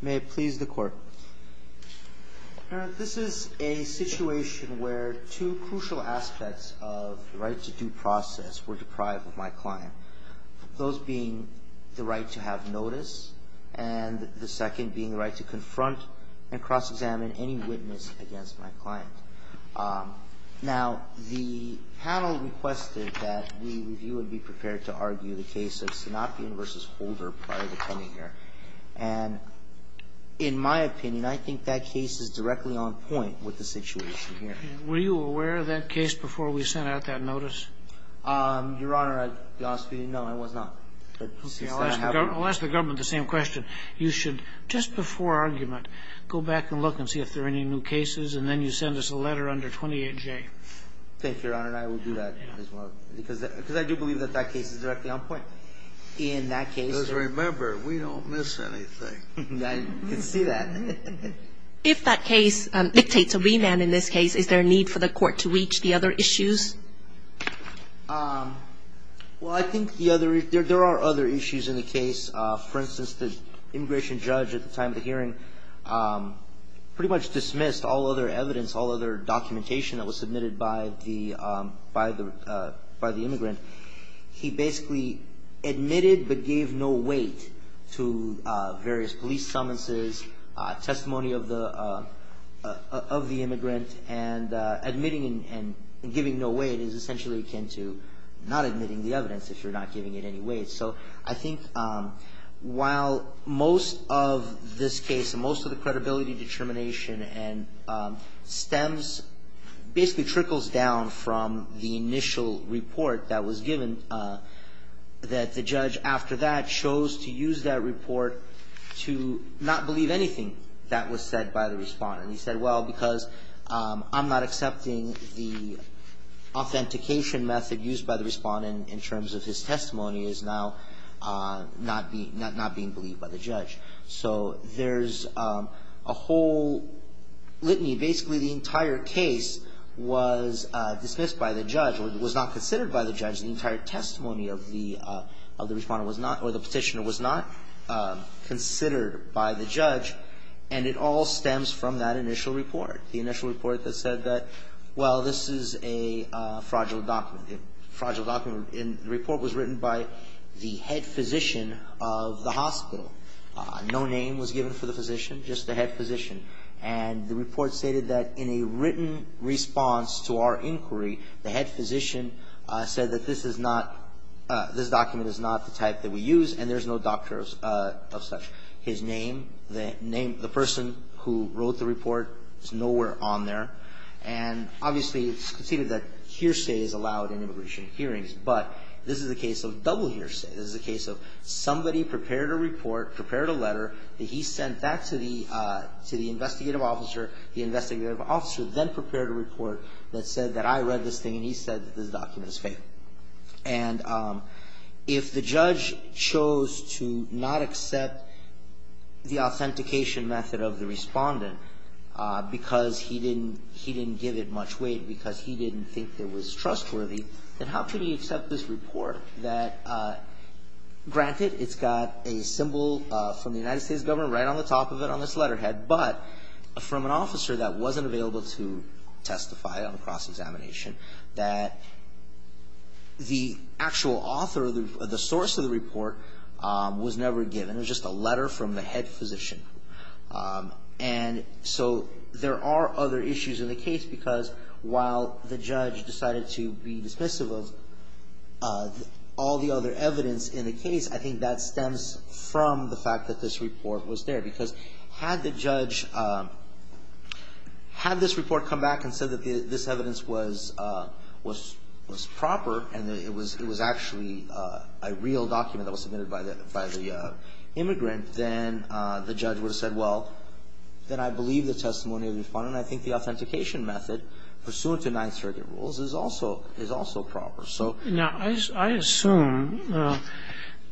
May it please the Court. Your Honor, this is a situation where two crucial aspects of the right-to-do process were deprived of my client. Those being the right to have notice and the second being the right to confront and cross-examine any witness against my client. Now, the panel requested that we review and be prepared to argue the case of Sanapien v. Holder prior to coming here. And in my opinion, I think that case is directly on point with the situation here. Were you aware of that case before we sent out that notice? Your Honor, to be honest with you, no, I was not. I'll ask the government the same question. You should, just before argument, go back and look and see if there are any new cases, and then you send us a letter under 28J. Thank you, Your Honor, and I will do that as well, because I do believe that that case is directly on point. In that case, though. Just remember, we don't miss anything. I can see that. If that case dictates a remand in this case, is there a need for the Court to reach the other issues? Well, I think there are other issues in the case. For instance, the immigration judge at the time of the hearing pretty much dismissed all other evidence, all other documentation that was submitted by the immigrant. He basically admitted but gave no weight to various police summonses, testimony of the immigrant, and admitting and giving no weight is essentially akin to not admitting the evidence if you're not giving it any weight. So I think while most of this case, most of the credibility, determination, and stems basically trickles down from the initial report that was given, that the judge after that chose to use that report to not believe anything that was said by the respondent. He said, well, because I'm not accepting the authentication method used by the respondent in terms of his testimony is now not being believed by the judge. So there's a whole litany. Basically, the entire case was dismissed by the judge or was not considered by the judge. The entire testimony of the respondent was not or the petitioner was not considered by the judge. And it all stems from that initial report, the initial report that said that, well, this is a fragile document. And the report was written by the head physician of the hospital. No name was given for the physician, just the head physician. And the report stated that in a written response to our inquiry, the head physician said that this is not, this document is not the type that we use and there's no doctor of such. His name, the name, the person who wrote the report is nowhere on there. And obviously, it's conceded that hearsay is allowed in immigration hearings. But this is a case of double hearsay. This is a case of somebody prepared a report, prepared a letter that he sent back to the, to the investigative officer. The investigative officer then prepared a report that said that I read this thing and he said that this document is fake. And if the judge chose to not accept the authentication method of the respondent because he didn't, he didn't give it much weight, because he didn't think it was trustworthy, then how could he accept this report that, granted, it's got a symbol from the United States government right on the top of it on this letterhead, but from an officer that wasn't available to testify on a cross-examination, that the actual author, the source of the report was never given. It was just a letter from the head physician. And so there are other issues in the case because while the judge decided to be dismissive of all the other evidence in the case, I think that stems from the fact that this report was there. Because had the judge, had this report come back and said that this evidence was proper and it was, it was actually a real document that was submitted by the, by the immigrant, then the judge would have said, well, then I believe the testimony of the respondent. I think the authentication method pursuant to Ninth Circuit rules is also, is also proper. So now I assume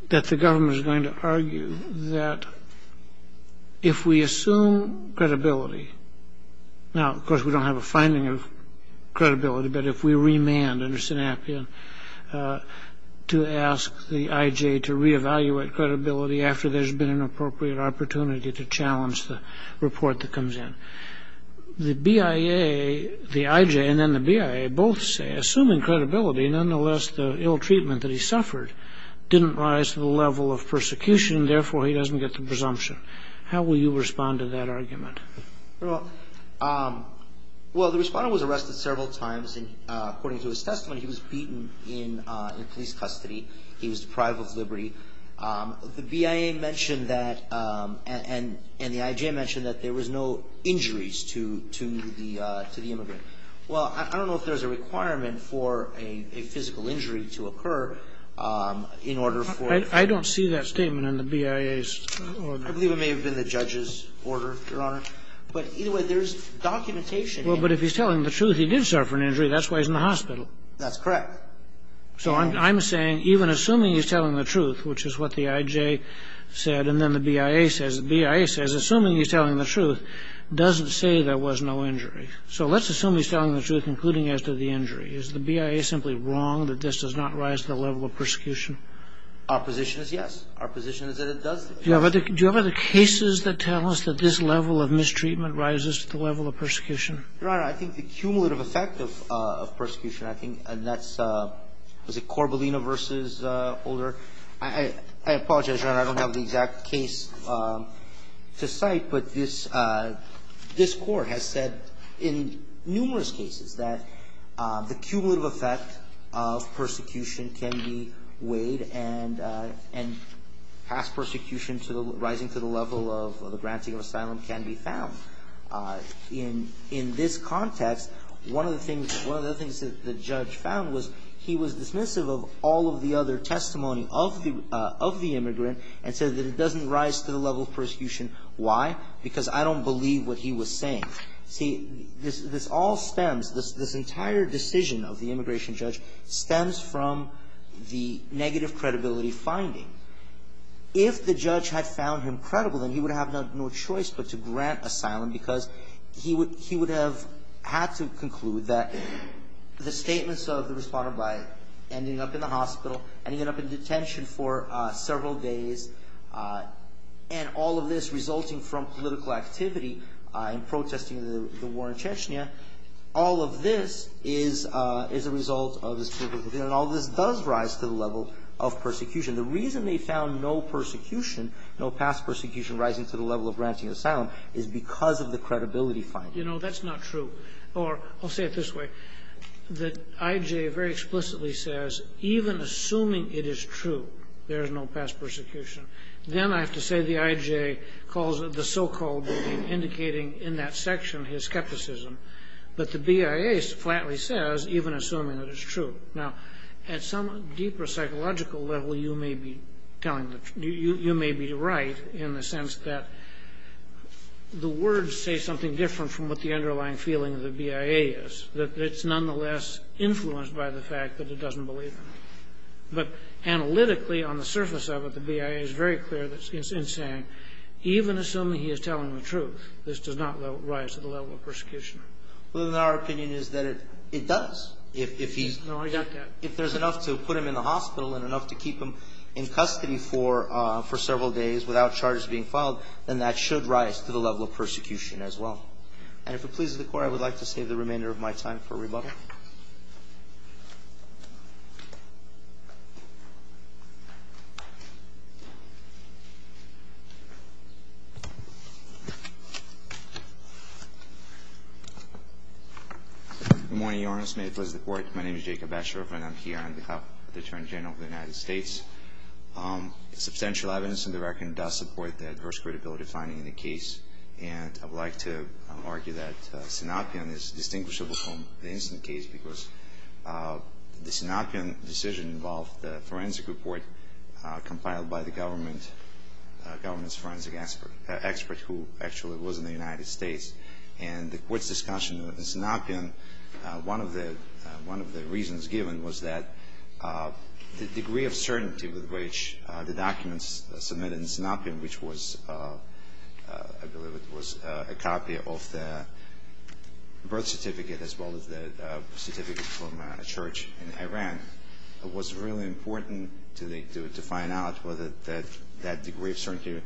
that the government is going to argue that if we assume credibility, now, of course, we don't have a finding of credibility, but if we remand under Sinapian to ask the IJ to reevaluate credibility after there's been an appropriate opportunity to challenge the report that comes in, the BIA, the IJ and then the BIA both say, assuming credibility, nonetheless the ill treatment that he suffered didn't rise to the level of persecution, therefore he doesn't get the presumption. How will you respond to that argument? Well, the respondent was arrested several times, and according to his testimony, he was beaten in police custody. He was deprived of liberty. The BIA mentioned that and the IJ mentioned that there was no injuries to the immigrant. Well, I don't know if there's a requirement for a physical injury to occur in order for I don't see that statement in the BIA's I believe it may have been the judge's order, Your Honor. But either way, there's documentation. Well, but if he's telling the truth, he did suffer an injury. That's why he's in the hospital. That's correct. So I'm saying even assuming he's telling the truth, which is what the IJ said, and then the BIA says, assuming he's telling the truth, doesn't say there was no injury. So let's assume he's telling the truth, including as to the injury. Is the BIA simply wrong that this does not rise to the level of persecution? Our position is yes. Our position is that it does. Do you have other cases that tell us that this level of mistreatment rises to the level of persecution? Your Honor, I think the cumulative effect of persecution, I think, and that's was it Corbellino v. Older? I apologize, Your Honor. I don't have the exact case to cite. But this Court has said in numerous cases that the cumulative effect of persecution can be weighed and past persecution rising to the level of the granting of asylum can be found. In this context, one of the things that the judge found was he was dismissive of all of the other testimony of the immigrant and said that it doesn't rise to the level of persecution. Why? Because I don't believe what he was saying. See, this all stems, this entire decision of the immigration judge stems from the negative credibility finding. If the judge had found him credible, then he would have had no choice but to grant asylum because he would have had to conclude that the statements of the responder by ending up in the hospital, ending up in detention for several days, and all of this the war in Chechnya, all of this is a result of this. And all of this does rise to the level of persecution. The reason they found no persecution, no past persecution rising to the level of granting asylum is because of the credibility finding. You know, that's not true. Or I'll say it this way. The I.J. very explicitly says even assuming it is true there is no past persecution, then I have to say the I.J. calls the so-called indicating in that section his skepticism. But the BIA flatly says even assuming it is true. Now, at some deeper psychological level, you may be telling, you may be right in the sense that the words say something different from what the underlying feeling of the BIA is, that it's nonetheless influenced by the fact that it doesn't believe him. But analytically on the surface of it, the BIA is very clear in saying even assuming he is telling the truth, this does not rise to the level of persecution. Well, then our opinion is that it does. No, I got that. If there's enough to put him in the hospital and enough to keep him in custody for several days without charges being filed, then that should rise to the level of persecution as well. And if it pleases the Court, I would like to save the remainder of my time for rebuttal. Good morning, Your Honor. May it please the Court. My name is Jacob Asher. I'm here on behalf of the Attorney General of the United States. Substantial evidence in the record does support the adverse credibility finding in the case. And I would like to argue that Sinopion is distinguishable from the incident case because the Sinopion decision involved the forensic report compiled by the government's forensic expert who actually was in the United States. And the Court's discussion of Sinopion, one of the reasons given was that the degree of certainty with which the documents submitted in Sinopion, which was, I believe it was a copy of the birth certificate as well as the certificate from a church in Iran, it was really important to find out whether that degree of certainty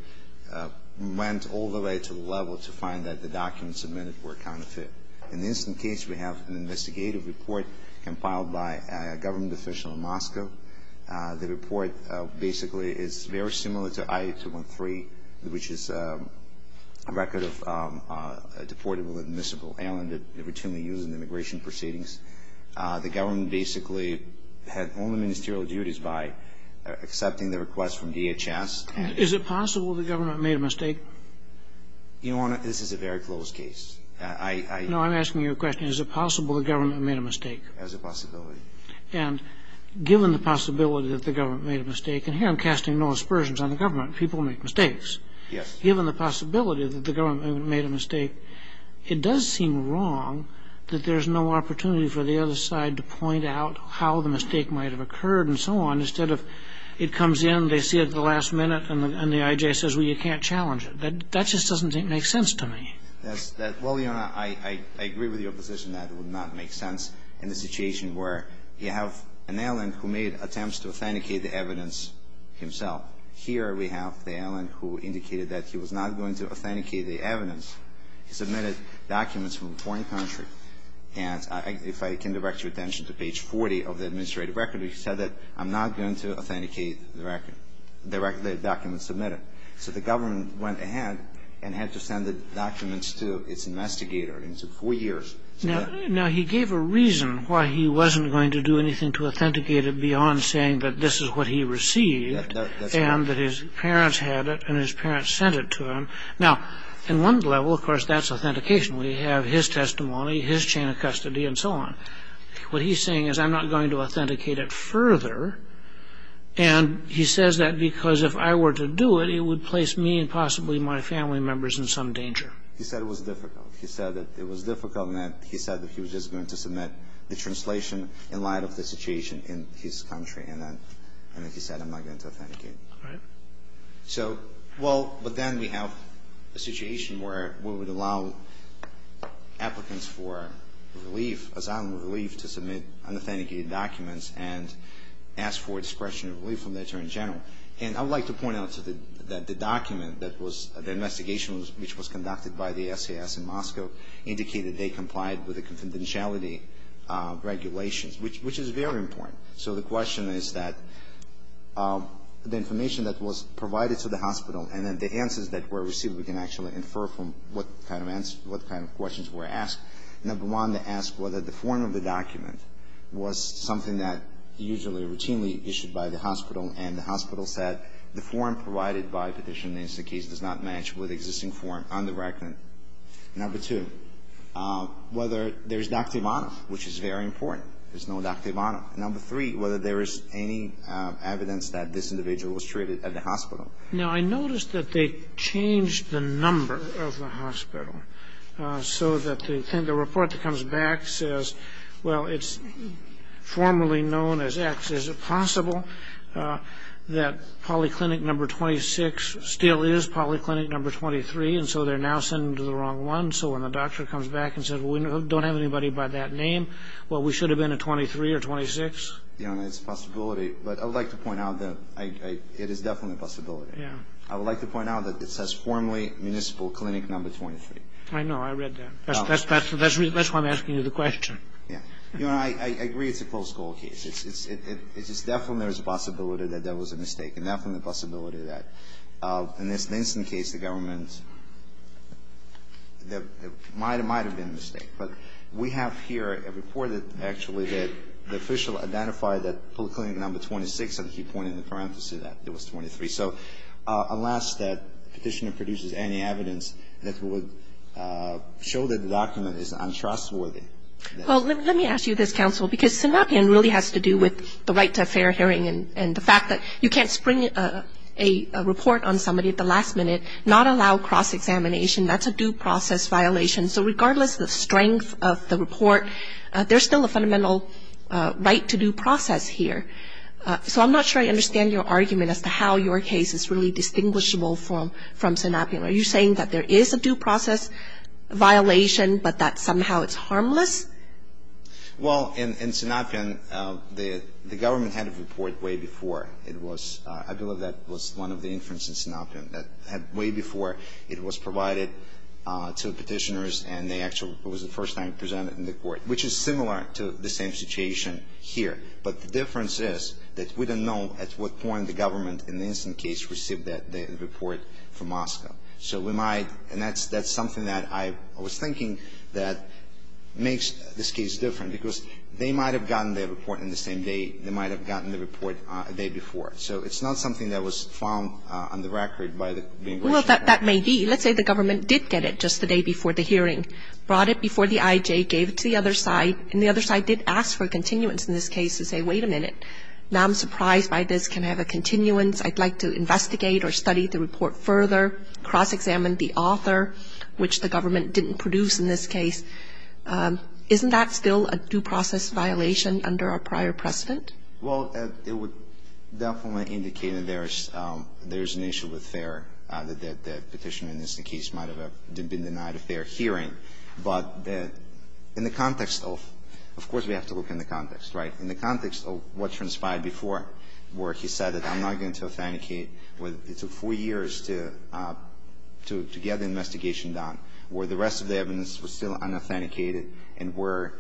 went all the way to the level to find that the documents submitted were counterfeit. In the incident case, we have an investigative report compiled by a government official in Moscow. The report basically is very similar to I-8213, which is a record of a deportable admissible alien that they routinely use in immigration proceedings. The government basically had only ministerial duties by accepting the request from DHS. Is it possible the government made a mistake? Your Honor, this is a very close case. No, I'm asking you a question. Is it possible the government made a mistake? There's a possibility. And given the possibility that the government made a mistake, and here I'm casting no aspersions on the government. People make mistakes. Yes. Given the possibility that the government made a mistake, it does seem wrong that there's no opportunity for the other side to point out how the mistake might have occurred and so on, instead of it comes in, they see it at the last minute, and the I.J. says, well, you can't challenge it. That just doesn't make sense to me. Well, Your Honor, I agree with your position that it would not make sense in the case of the State of New York. You have an ailing who made attempts to authenticate the evidence himself. Here we have the ailing who indicated that he was not going to authenticate the evidence. He submitted documents from a foreign country. And if I can direct your attention to page 40 of the administrative record, he said that I'm not going to authenticate the record the documents submitted. So the government went ahead and had to send the documents to its investigator, and it took four years. Now, he gave a reason why he wasn't going to do anything to authenticate it beyond saying that this is what he received and that his parents had it and his parents sent it to him. Now, in one level, of course, that's authentication. We have his testimony, his chain of custody, and so on. What he's saying is I'm not going to authenticate it further, and he says that because if I were to do it, it would place me and possibly my family members in some danger. He said it was difficult. And he said that he was just going to submit the translation in light of the situation in his country. And then he said I'm not going to authenticate it. All right. So, well, but then we have a situation where we would allow applicants for relief, asylum relief, to submit unauthenticated documents and ask for discretionary relief from the attorney general. And I would like to point out that the document that was the investigation which was conducted by the SAS in Moscow indicated they complied with the confidentiality regulations, which is very important. So the question is that the information that was provided to the hospital and then the answers that were received, we can actually infer from what kind of questions were asked. Number one, to ask whether the form of the document was something that usually routinely issued by the hospital, and the hospital said the form provided by Petition in this case does not match with the existing form on the record. Number two, whether there's doctor of honor, which is very important. There's no doctor of honor. And number three, whether there is any evidence that this individual was treated at the hospital. Now, I noticed that they changed the number of the hospital so that the report that comes back says, well, it's formerly known as X. Is it possible that polyclinic number 26 still is polyclinic number 23? And so they're now sending to the wrong one. So when the doctor comes back and says, well, we don't have anybody by that name, well, we should have been a 23 or 26. It's a possibility. But I would like to point out that it is definitely a possibility. I would like to point out that it says formerly municipal clinic number 23. I know. I read that. That's why I'm asking you the question. I agree it's a close call case. It's just definitely there's a possibility that there was a mistake, and definitely a possibility that in this Ninsen case, the government, there might have been a mistake. But we have here a report, actually, that the official identified that polyclinic number 26, and he pointed the parenthesis out. It was 23. So unless that Petitioner produces any evidence that would show that the document is untrustworthy. Well, let me ask you this, Counsel, because Synapian really has to do with the right to a fair hearing and the fact that you can't spring a report on somebody at the last minute, not allow cross-examination. That's a due process violation. So regardless of the strength of the report, there's still a fundamental right to due process here. So I'm not sure I understand your argument as to how your case is really distinguishable from Synapian. Are you saying that there is a due process violation, but that somehow it's harmless? Well, in Synapian, the government had a report way before. It was, I believe that was one of the inferences in Synapian, that way before it was provided to the Petitioners, and they actually, it was the first time presented in the court, which is similar to the same situation here. But the difference is that we don't know at what point the government in the Ninsen case received the report from Moscow. So we might, and that's something that I was thinking that makes this case different, because they might have gotten their report on the same day. They might have gotten the report the day before. So it's not something that was found on the record by the Ninsen case. Well, that may be. Let's say the government did get it just the day before the hearing, brought it before the IJ, gave it to the other side, and the other side did ask for a continuance in this case and say, wait a minute, now I'm surprised by this. Can I have a continuance? I'd like to investigate or study the report further, cross-examine the author, which the government didn't produce in this case. Isn't that still a due process violation under our prior precedent? Well, it would definitely indicate that there is an issue with FAIR, that the Petitioner in the Ninsen case might have been denied a FAIR hearing. But in the context of of course we have to look in the context, right? So the question is, why is it that the Petitioner in the Ninsen case, he said that I'm not going to authenticate. It took four years to get the investigation done, where the rest of the evidence was still unauthenticated and where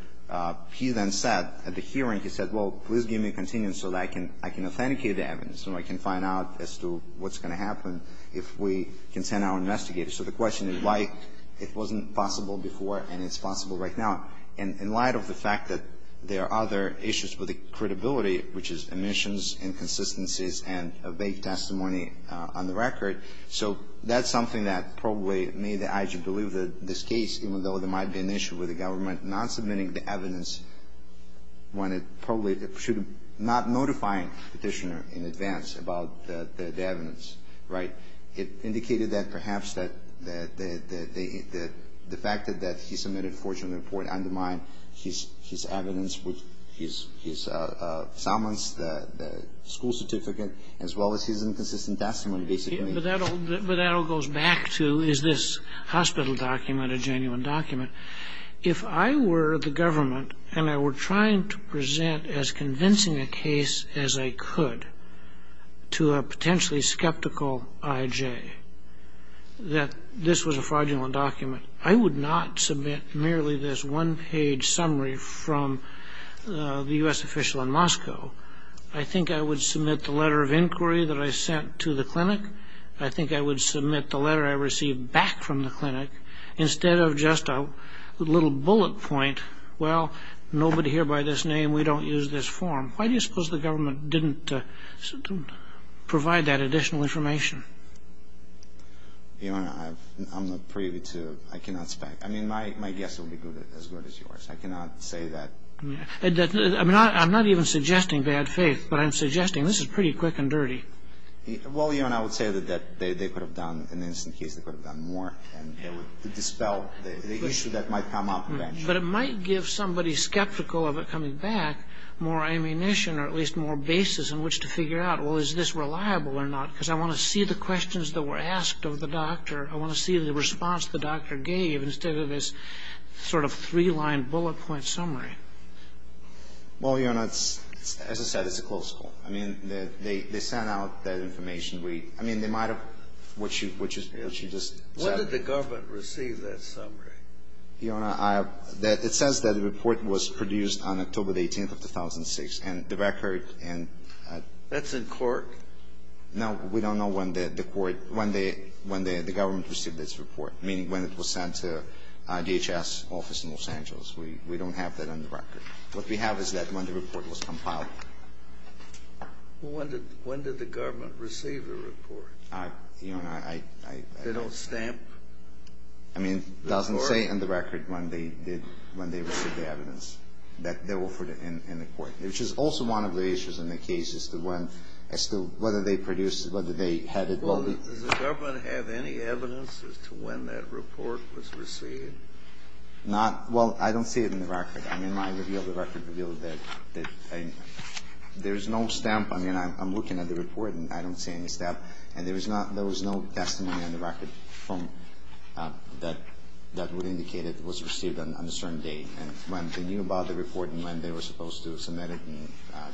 he then said at the hearing, he said, well, please give me a continuance so that I can authenticate the evidence and I can find out as to what's going to happen if we can send our investigators. So the question is why it wasn't possible before and it's possible right now. And in light of the fact that there are other issues with the credibility, which is omissions, inconsistencies and a vague testimony on the record, so that's something that probably made the IG believe that this case, even though there might be an issue with the government not submitting the evidence when it probably should have not notified the Petitioner in advance about the evidence, right? It indicated that perhaps that the fact that he submitted a forged report undermined his evidence, his summons, the school certificate, as well as his inconsistent testimony, basically. But that all goes back to, is this hospital document a genuine document? If I were the government and I were trying to present as convincing a case as I could to a potentially skeptical IJ that this was a fraudulent document, I would not submit merely this one-page summary from the U.S. official in Moscow. I think I would submit the letter of inquiry that I sent to the clinic. I think I would submit the letter I received back from the clinic instead of just a little bullet point, well, nobody here by this name, we don't use this form. Why do you suppose the government didn't provide that additional information? Your Honor, I'm not privy to, I cannot spec. I mean, my guess would be as good as yours. I cannot say that. I'm not even suggesting bad faith, but I'm suggesting this is pretty quick and dirty. Well, Your Honor, I would say that they could have done, in this case, they could have done more and dispelled the issue that might come up eventually. But it might give somebody skeptical of it coming back more ammunition or at least more basis in which to figure out, well, is this reliable or not? Because I want to see the questions that were asked of the doctor. I want to see the response the doctor gave instead of this sort of three-line bullet point summary. Well, Your Honor, as I said, it's a close call. I mean, they sent out that information. I mean, they might have, what you just said. When did the government receive that summary? Your Honor, it says that the report was produced on October the 18th of 2006, and the record and the record. That's in Cork? No. We don't know when the court, when the government received this report, meaning when it was sent to DHS office in Los Angeles. We don't have that on the record. What we have is that when the report was compiled. Well, when did the government receive the report? Your Honor, I. They don't stamp? I mean, it doesn't say on the record when they did, when they received the evidence that they offered in the court, which is also one of the issues in the case as to when, as to whether they produced, whether they had it. Well, does the government have any evidence as to when that report was received? Not. Well, I don't see it in the record. I mean, my review of the record revealed that there's no stamp. I mean, I'm looking at the report, and I don't see any stamp. And there was not, there was no testimony on the record from, that would indicate it was received on a certain date, and when they knew about the report and when they were supposed to submit it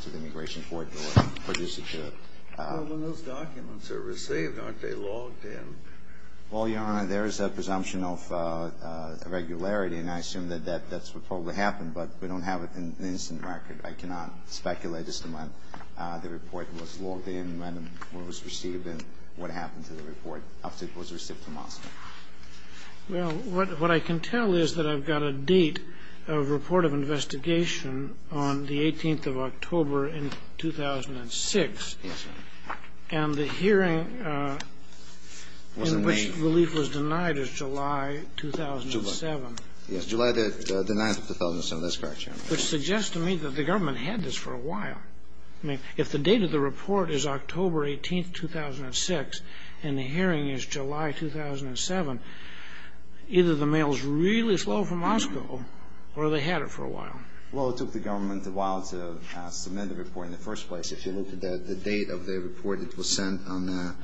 to the Immigration Court or produce it to. Well, when those documents are received, aren't they logged in? Well, Your Honor, there is a presumption of irregularity, and I assume that that's what probably happened, but we don't have an instant record. I cannot speculate as to when the report was logged in, when it was received, and what happened to the report after it was received to Moscow. Well, what I can tell is that I've got a date of report of investigation on the 18th of October in 2006. Yes, Your Honor. And the hearing in which relief was denied is July 2007. July. That's correct, Your Honor. Which suggests to me that the government had this for a while. I mean, if the date of the report is October 18, 2006, and the hearing is July 2007, either the mail is really slow from Moscow, or they had it for a while. Well, it took the government a while to submit the report in the first place. If you look at the date of the report, it was sent on,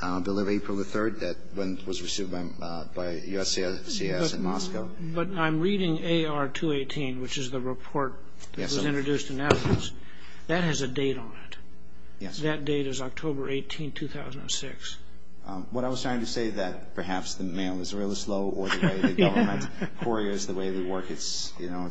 I believe, April the 3rd, when it was received by USCIS in Moscow. But I'm reading AR 218, which is the report that was introduced in evidence. That has a date on it. That date is October 18, 2006. What I was trying to say is that perhaps the mail is really slow, or the way the government couriers, the way they work, it's, you know.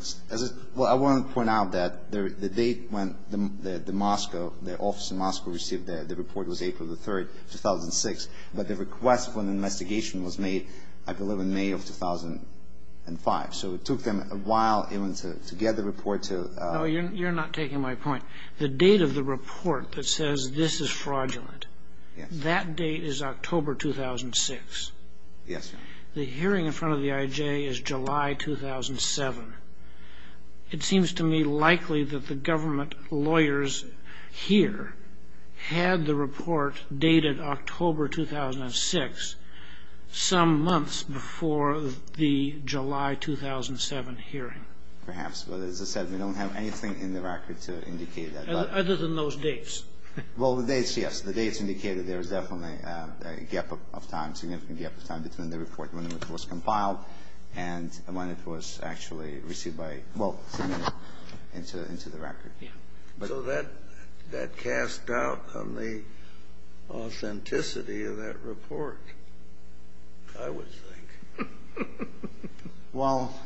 Well, I want to point out that the date when the Moscow, the office in Moscow, received the report was April the 3rd, 2006, but the request for an investigation was made, I believe, in May of 2005. So it took them a while even to get the report. No, you're not taking my point. The date of the report that says this is fraudulent, that date is October 2006. Yes. The hearing in front of the IJ is July 2007. It seems to me likely that the government lawyers here had the report dated October 2006, some months before the July 2007 hearing. Perhaps. But as I said, we don't have anything in the record to indicate that. Other than those dates. Well, the dates, yes. The dates indicate that there was definitely a gap of time, significant gap of time between the report when it was compiled and when it was actually received by, well, sent into the record. Yeah. So that casts doubt on the authenticity of that report, I would think. Well,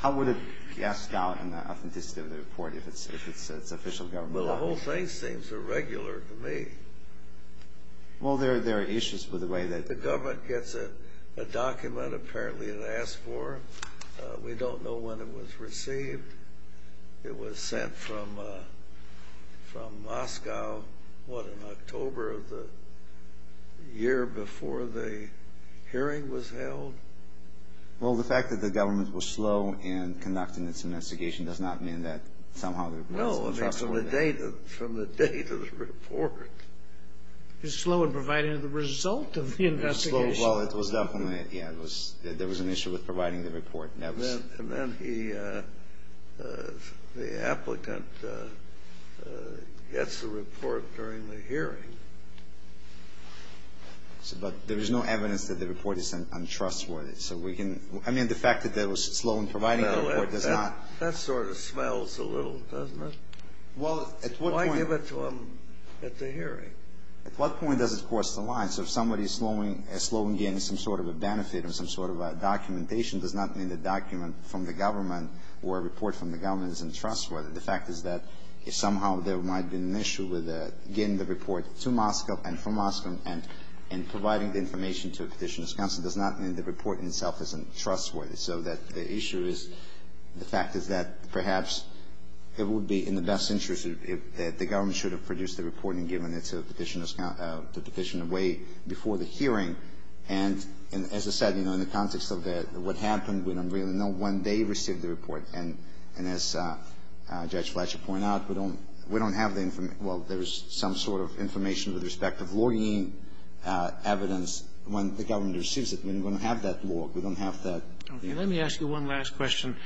how would it cast doubt on the authenticity of the report if it's official government law? Well, the whole thing seems irregular to me. Well, there are issues with the way that the government gets a document, apparently, and asks for it. We don't know when it was received. It was sent from Moscow, what, in October of the year before the hearing was held? Well, the fact that the government was slow in conducting its investigation does not mean that somehow they produced the document. No, from the date of the report. It was slow in providing the result of the investigation. Well, it was definitely, yeah, there was an issue with providing the report. And then the applicant gets the report during the hearing. But there is no evidence that the report is untrustworthy. So we can, I mean, the fact that they were slow in providing the report does not. That sort of smells a little, doesn't it? Well, at what point. Why give it to them at the hearing? At what point does it cross the line? So if somebody is slow in getting some sort of a benefit or some sort of documentation, it does not mean the document from the government or a report from the government is untrustworthy. The fact is that somehow there might be an issue with getting the report to Moscow and from Moscow and providing the information to a petitioner's counsel does not mean the report in itself is untrustworthy. So the issue is, the fact is that perhaps it would be in the best interest if the government should have produced the report and given it to a petitioner's counsel to petition away before the hearing. And as I said, you know, in the context of what happened, we don't really know when they received the report. And as Judge Fletcher pointed out, we don't have the information. Well, there is some sort of information with respect of logging evidence when the government receives it. We don't have that log. We don't have that. Okay. Let me ask you one last question.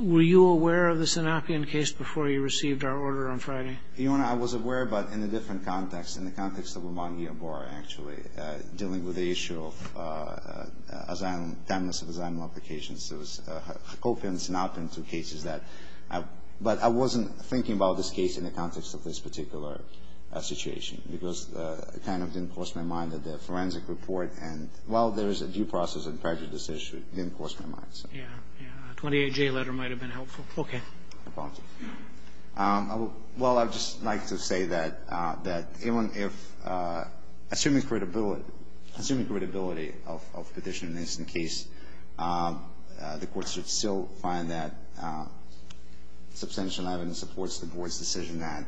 Were you aware of the Sanapian case before you received our order on Friday? Your Honor, I was aware, but in a different context, in the context of Obamagi and Bora, actually, dealing with the issue of asylum, timeless asylum applications. It was Hakopyan and Sanapian, two cases that I've – but I wasn't thinking about this case in the context of this particular situation because it kind of didn't cross my mind that the forensic report and while there is a due process and prejudice issue, it didn't cross my mind. Yeah, yeah. A 28-J letter might have been helpful. Okay. I apologize. Well, I would just like to say that even if – assuming credibility of petition in this case, the Court should still find that substantial evidence supports the Board's decision that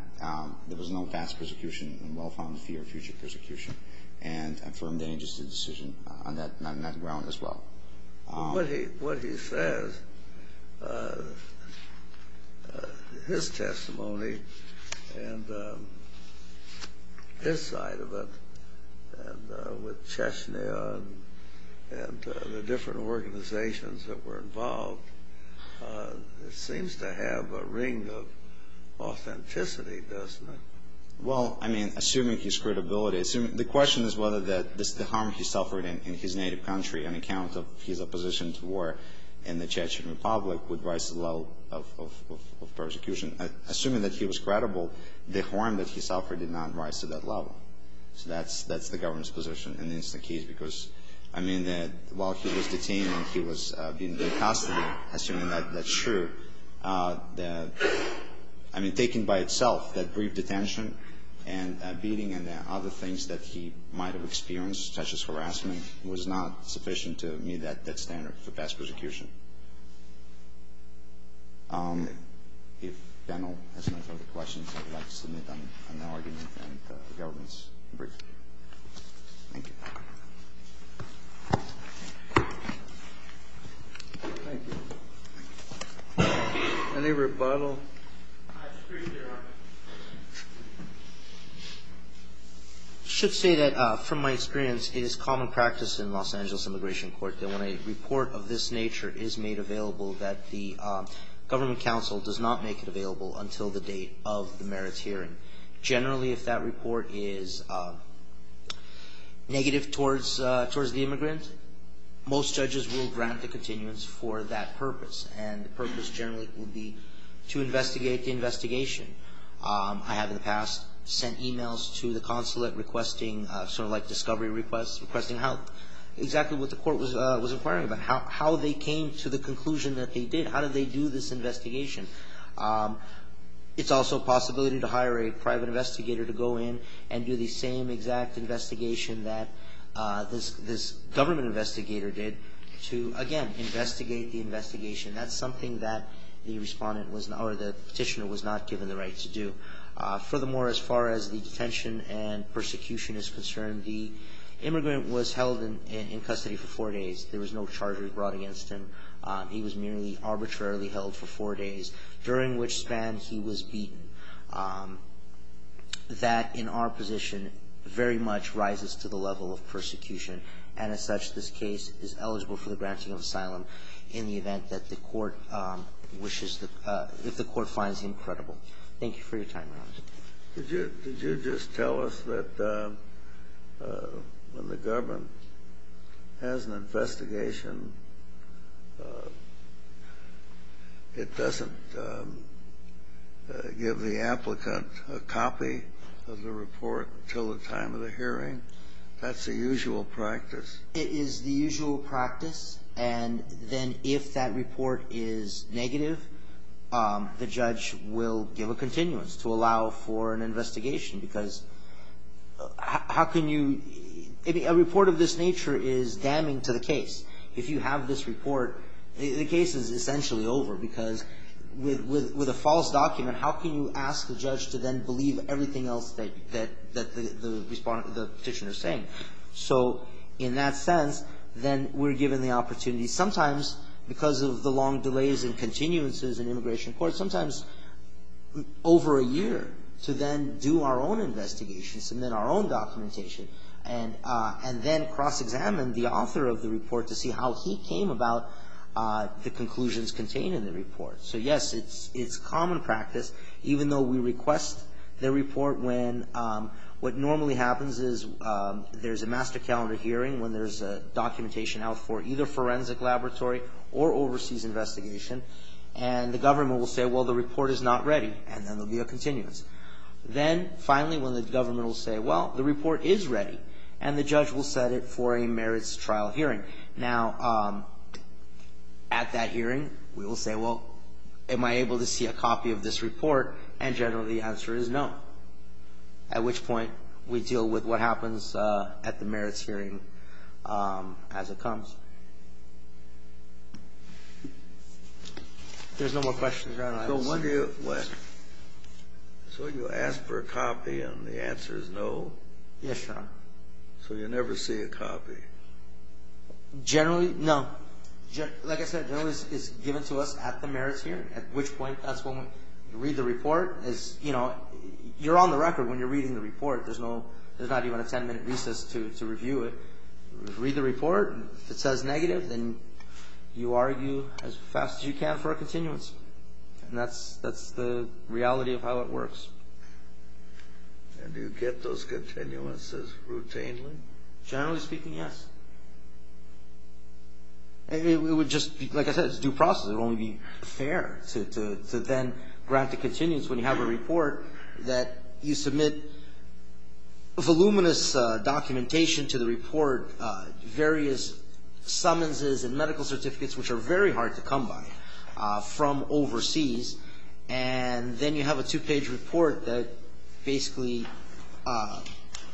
there was no past persecution and well-founded fear of future persecution and affirmed any justice decision on that ground as well. What he says, his testimony, and his side of it, and with Chechnya and the different organizations that were involved, it seems to have a ring of authenticity, doesn't it? Well, I mean, assuming his credibility, the question is whether the harm he suffered in his native country on account of his opposition to war in the Chechen Republic would rise to the level of persecution. Assuming that he was credible, the harm that he suffered did not rise to that level. So that's the government's position in this case because, I mean, while he was detained and he was being given custody, assuming that's true, I mean, taking by itself that brief detention and beating and other things that he might have experienced, such as harassment, was not sufficient to meet that standard for past persecution. If the panel has no further questions, I would like to submit an argument and the government's brief. Thank you. Thank you. Any rebuttal? I just appreciate your argument. I should say that, from my experience, it is common practice in Los Angeles Immigration Court that when a report of this nature is made available, that the government counsel does not make it available until the date of the merits hearing. Generally, if that report is negative towards the immigrant, most judges will grant the continuance for that purpose, and the purpose generally would be to investigate the investigation. I have in the past sent emails to the consulate requesting sort of like discovery requests, requesting exactly what the court was inquiring about, how they came to the conclusion that they did, how did they do this investigation. It's also a possibility to hire a private investigator to go in and do the same exact investigation that this government investigator did, to, again, investigate the investigation. That's something that the petitioner was not given the right to do. Furthermore, as far as the detention and persecution is concerned, the immigrant was held in custody for four days. There was no charge brought against him. He was merely arbitrarily held for four days, during which span he was beaten. That, in our position, very much rises to the level of persecution, and as such, this case is eligible for the granting of asylum in the event that the court wishes the – if the court finds him credible. Thank you for your time, Your Honor. Did you just tell us that when the government has an investigation, it doesn't give the applicant a copy of the report until the time of the hearing? That's the usual practice. It is the usual practice, and then if that report is negative, the judge will give a continuance to allow for an investigation, because how can you – a report of this nature is damning to the case. If you have this report, the case is essentially over, because with a false document, how can you ask the judge to then believe everything else that the petitioner is saying? So in that sense, then we're given the opportunity, sometimes because of the long delays and continuances in immigration court, sometimes over a year, to then do our own investigation, submit our own documentation, and then cross-examine the author of the report to see how he came about the conclusions contained in the report. So, yes, it's common practice, even though we request the report when – what normally happens is there's a master calendar hearing when there's documentation out for either forensic laboratory or overseas investigation, and the government will say, well, the report is not ready, and then there'll be a continuance. Then, finally, when the government will say, well, the report is ready, and the judge will set it for a merits trial hearing. Now, at that hearing, we will say, well, am I able to see a copy of this report, and generally the answer is no, at which point we deal with what happens at the merits hearing as it comes. If there's no more questions, Your Honor, I will stop. So when do you – so you ask for a copy, and the answer is no? So you never see a copy. Generally, no. Like I said, generally it's given to us at the merits hearing, at which point that's when we read the report as, you know, you're on the record when you're reading the report. There's no – there's not even a 10-minute recess to review it. Read the report. If it says negative, then you argue as fast as you can for a continuance, and that's the reality of how it works. And do you get those continuances routinely? Generally speaking, yes. It would just be – like I said, it's due process. It would only be fair to then grant the continuance when you have a report that you submit voluminous documentation to the report, various summonses and medical certificates, which are very hard to come by from overseas, and then you have a two-page report that basically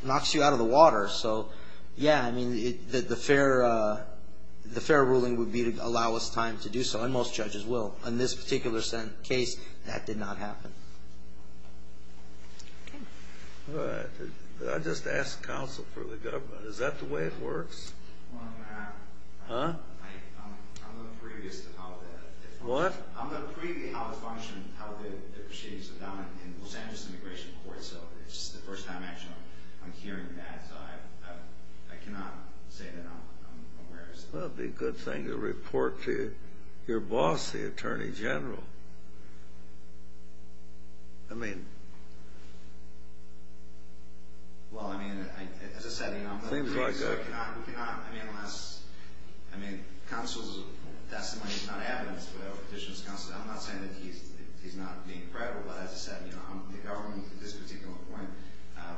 knocks you out of the water. So, yeah, I mean, the fair ruling would be to allow us time to do so, and most judges will. In this particular case, that did not happen. All right. I just asked counsel for the government. Is that the way it works? Huh? What? It's the first time actually I'm hearing that, so I cannot say that I'm aware of it. Well, it would be a good thing to report to your boss, the attorney general. I mean – Well, I mean, as I said, you know – Seems like it. We cannot – I mean, unless – I mean, counsel's testimony is not evidence, but our petitioner's counsel – I'm not saying that he's not being credible, but as I said, you know, the government at this particular point, I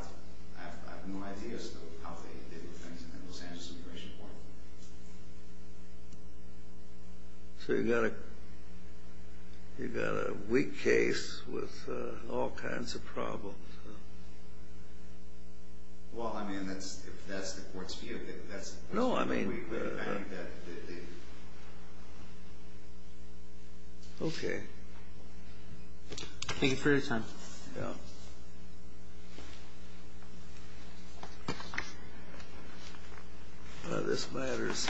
have no idea as to how they did things in the Los Angeles immigration court. So you've got a weak case with all kinds of problems. Well, I mean, if that's the court's view, that's – No, I mean – We've got – Okay. Thank you for your time. Yeah. Well, this matters.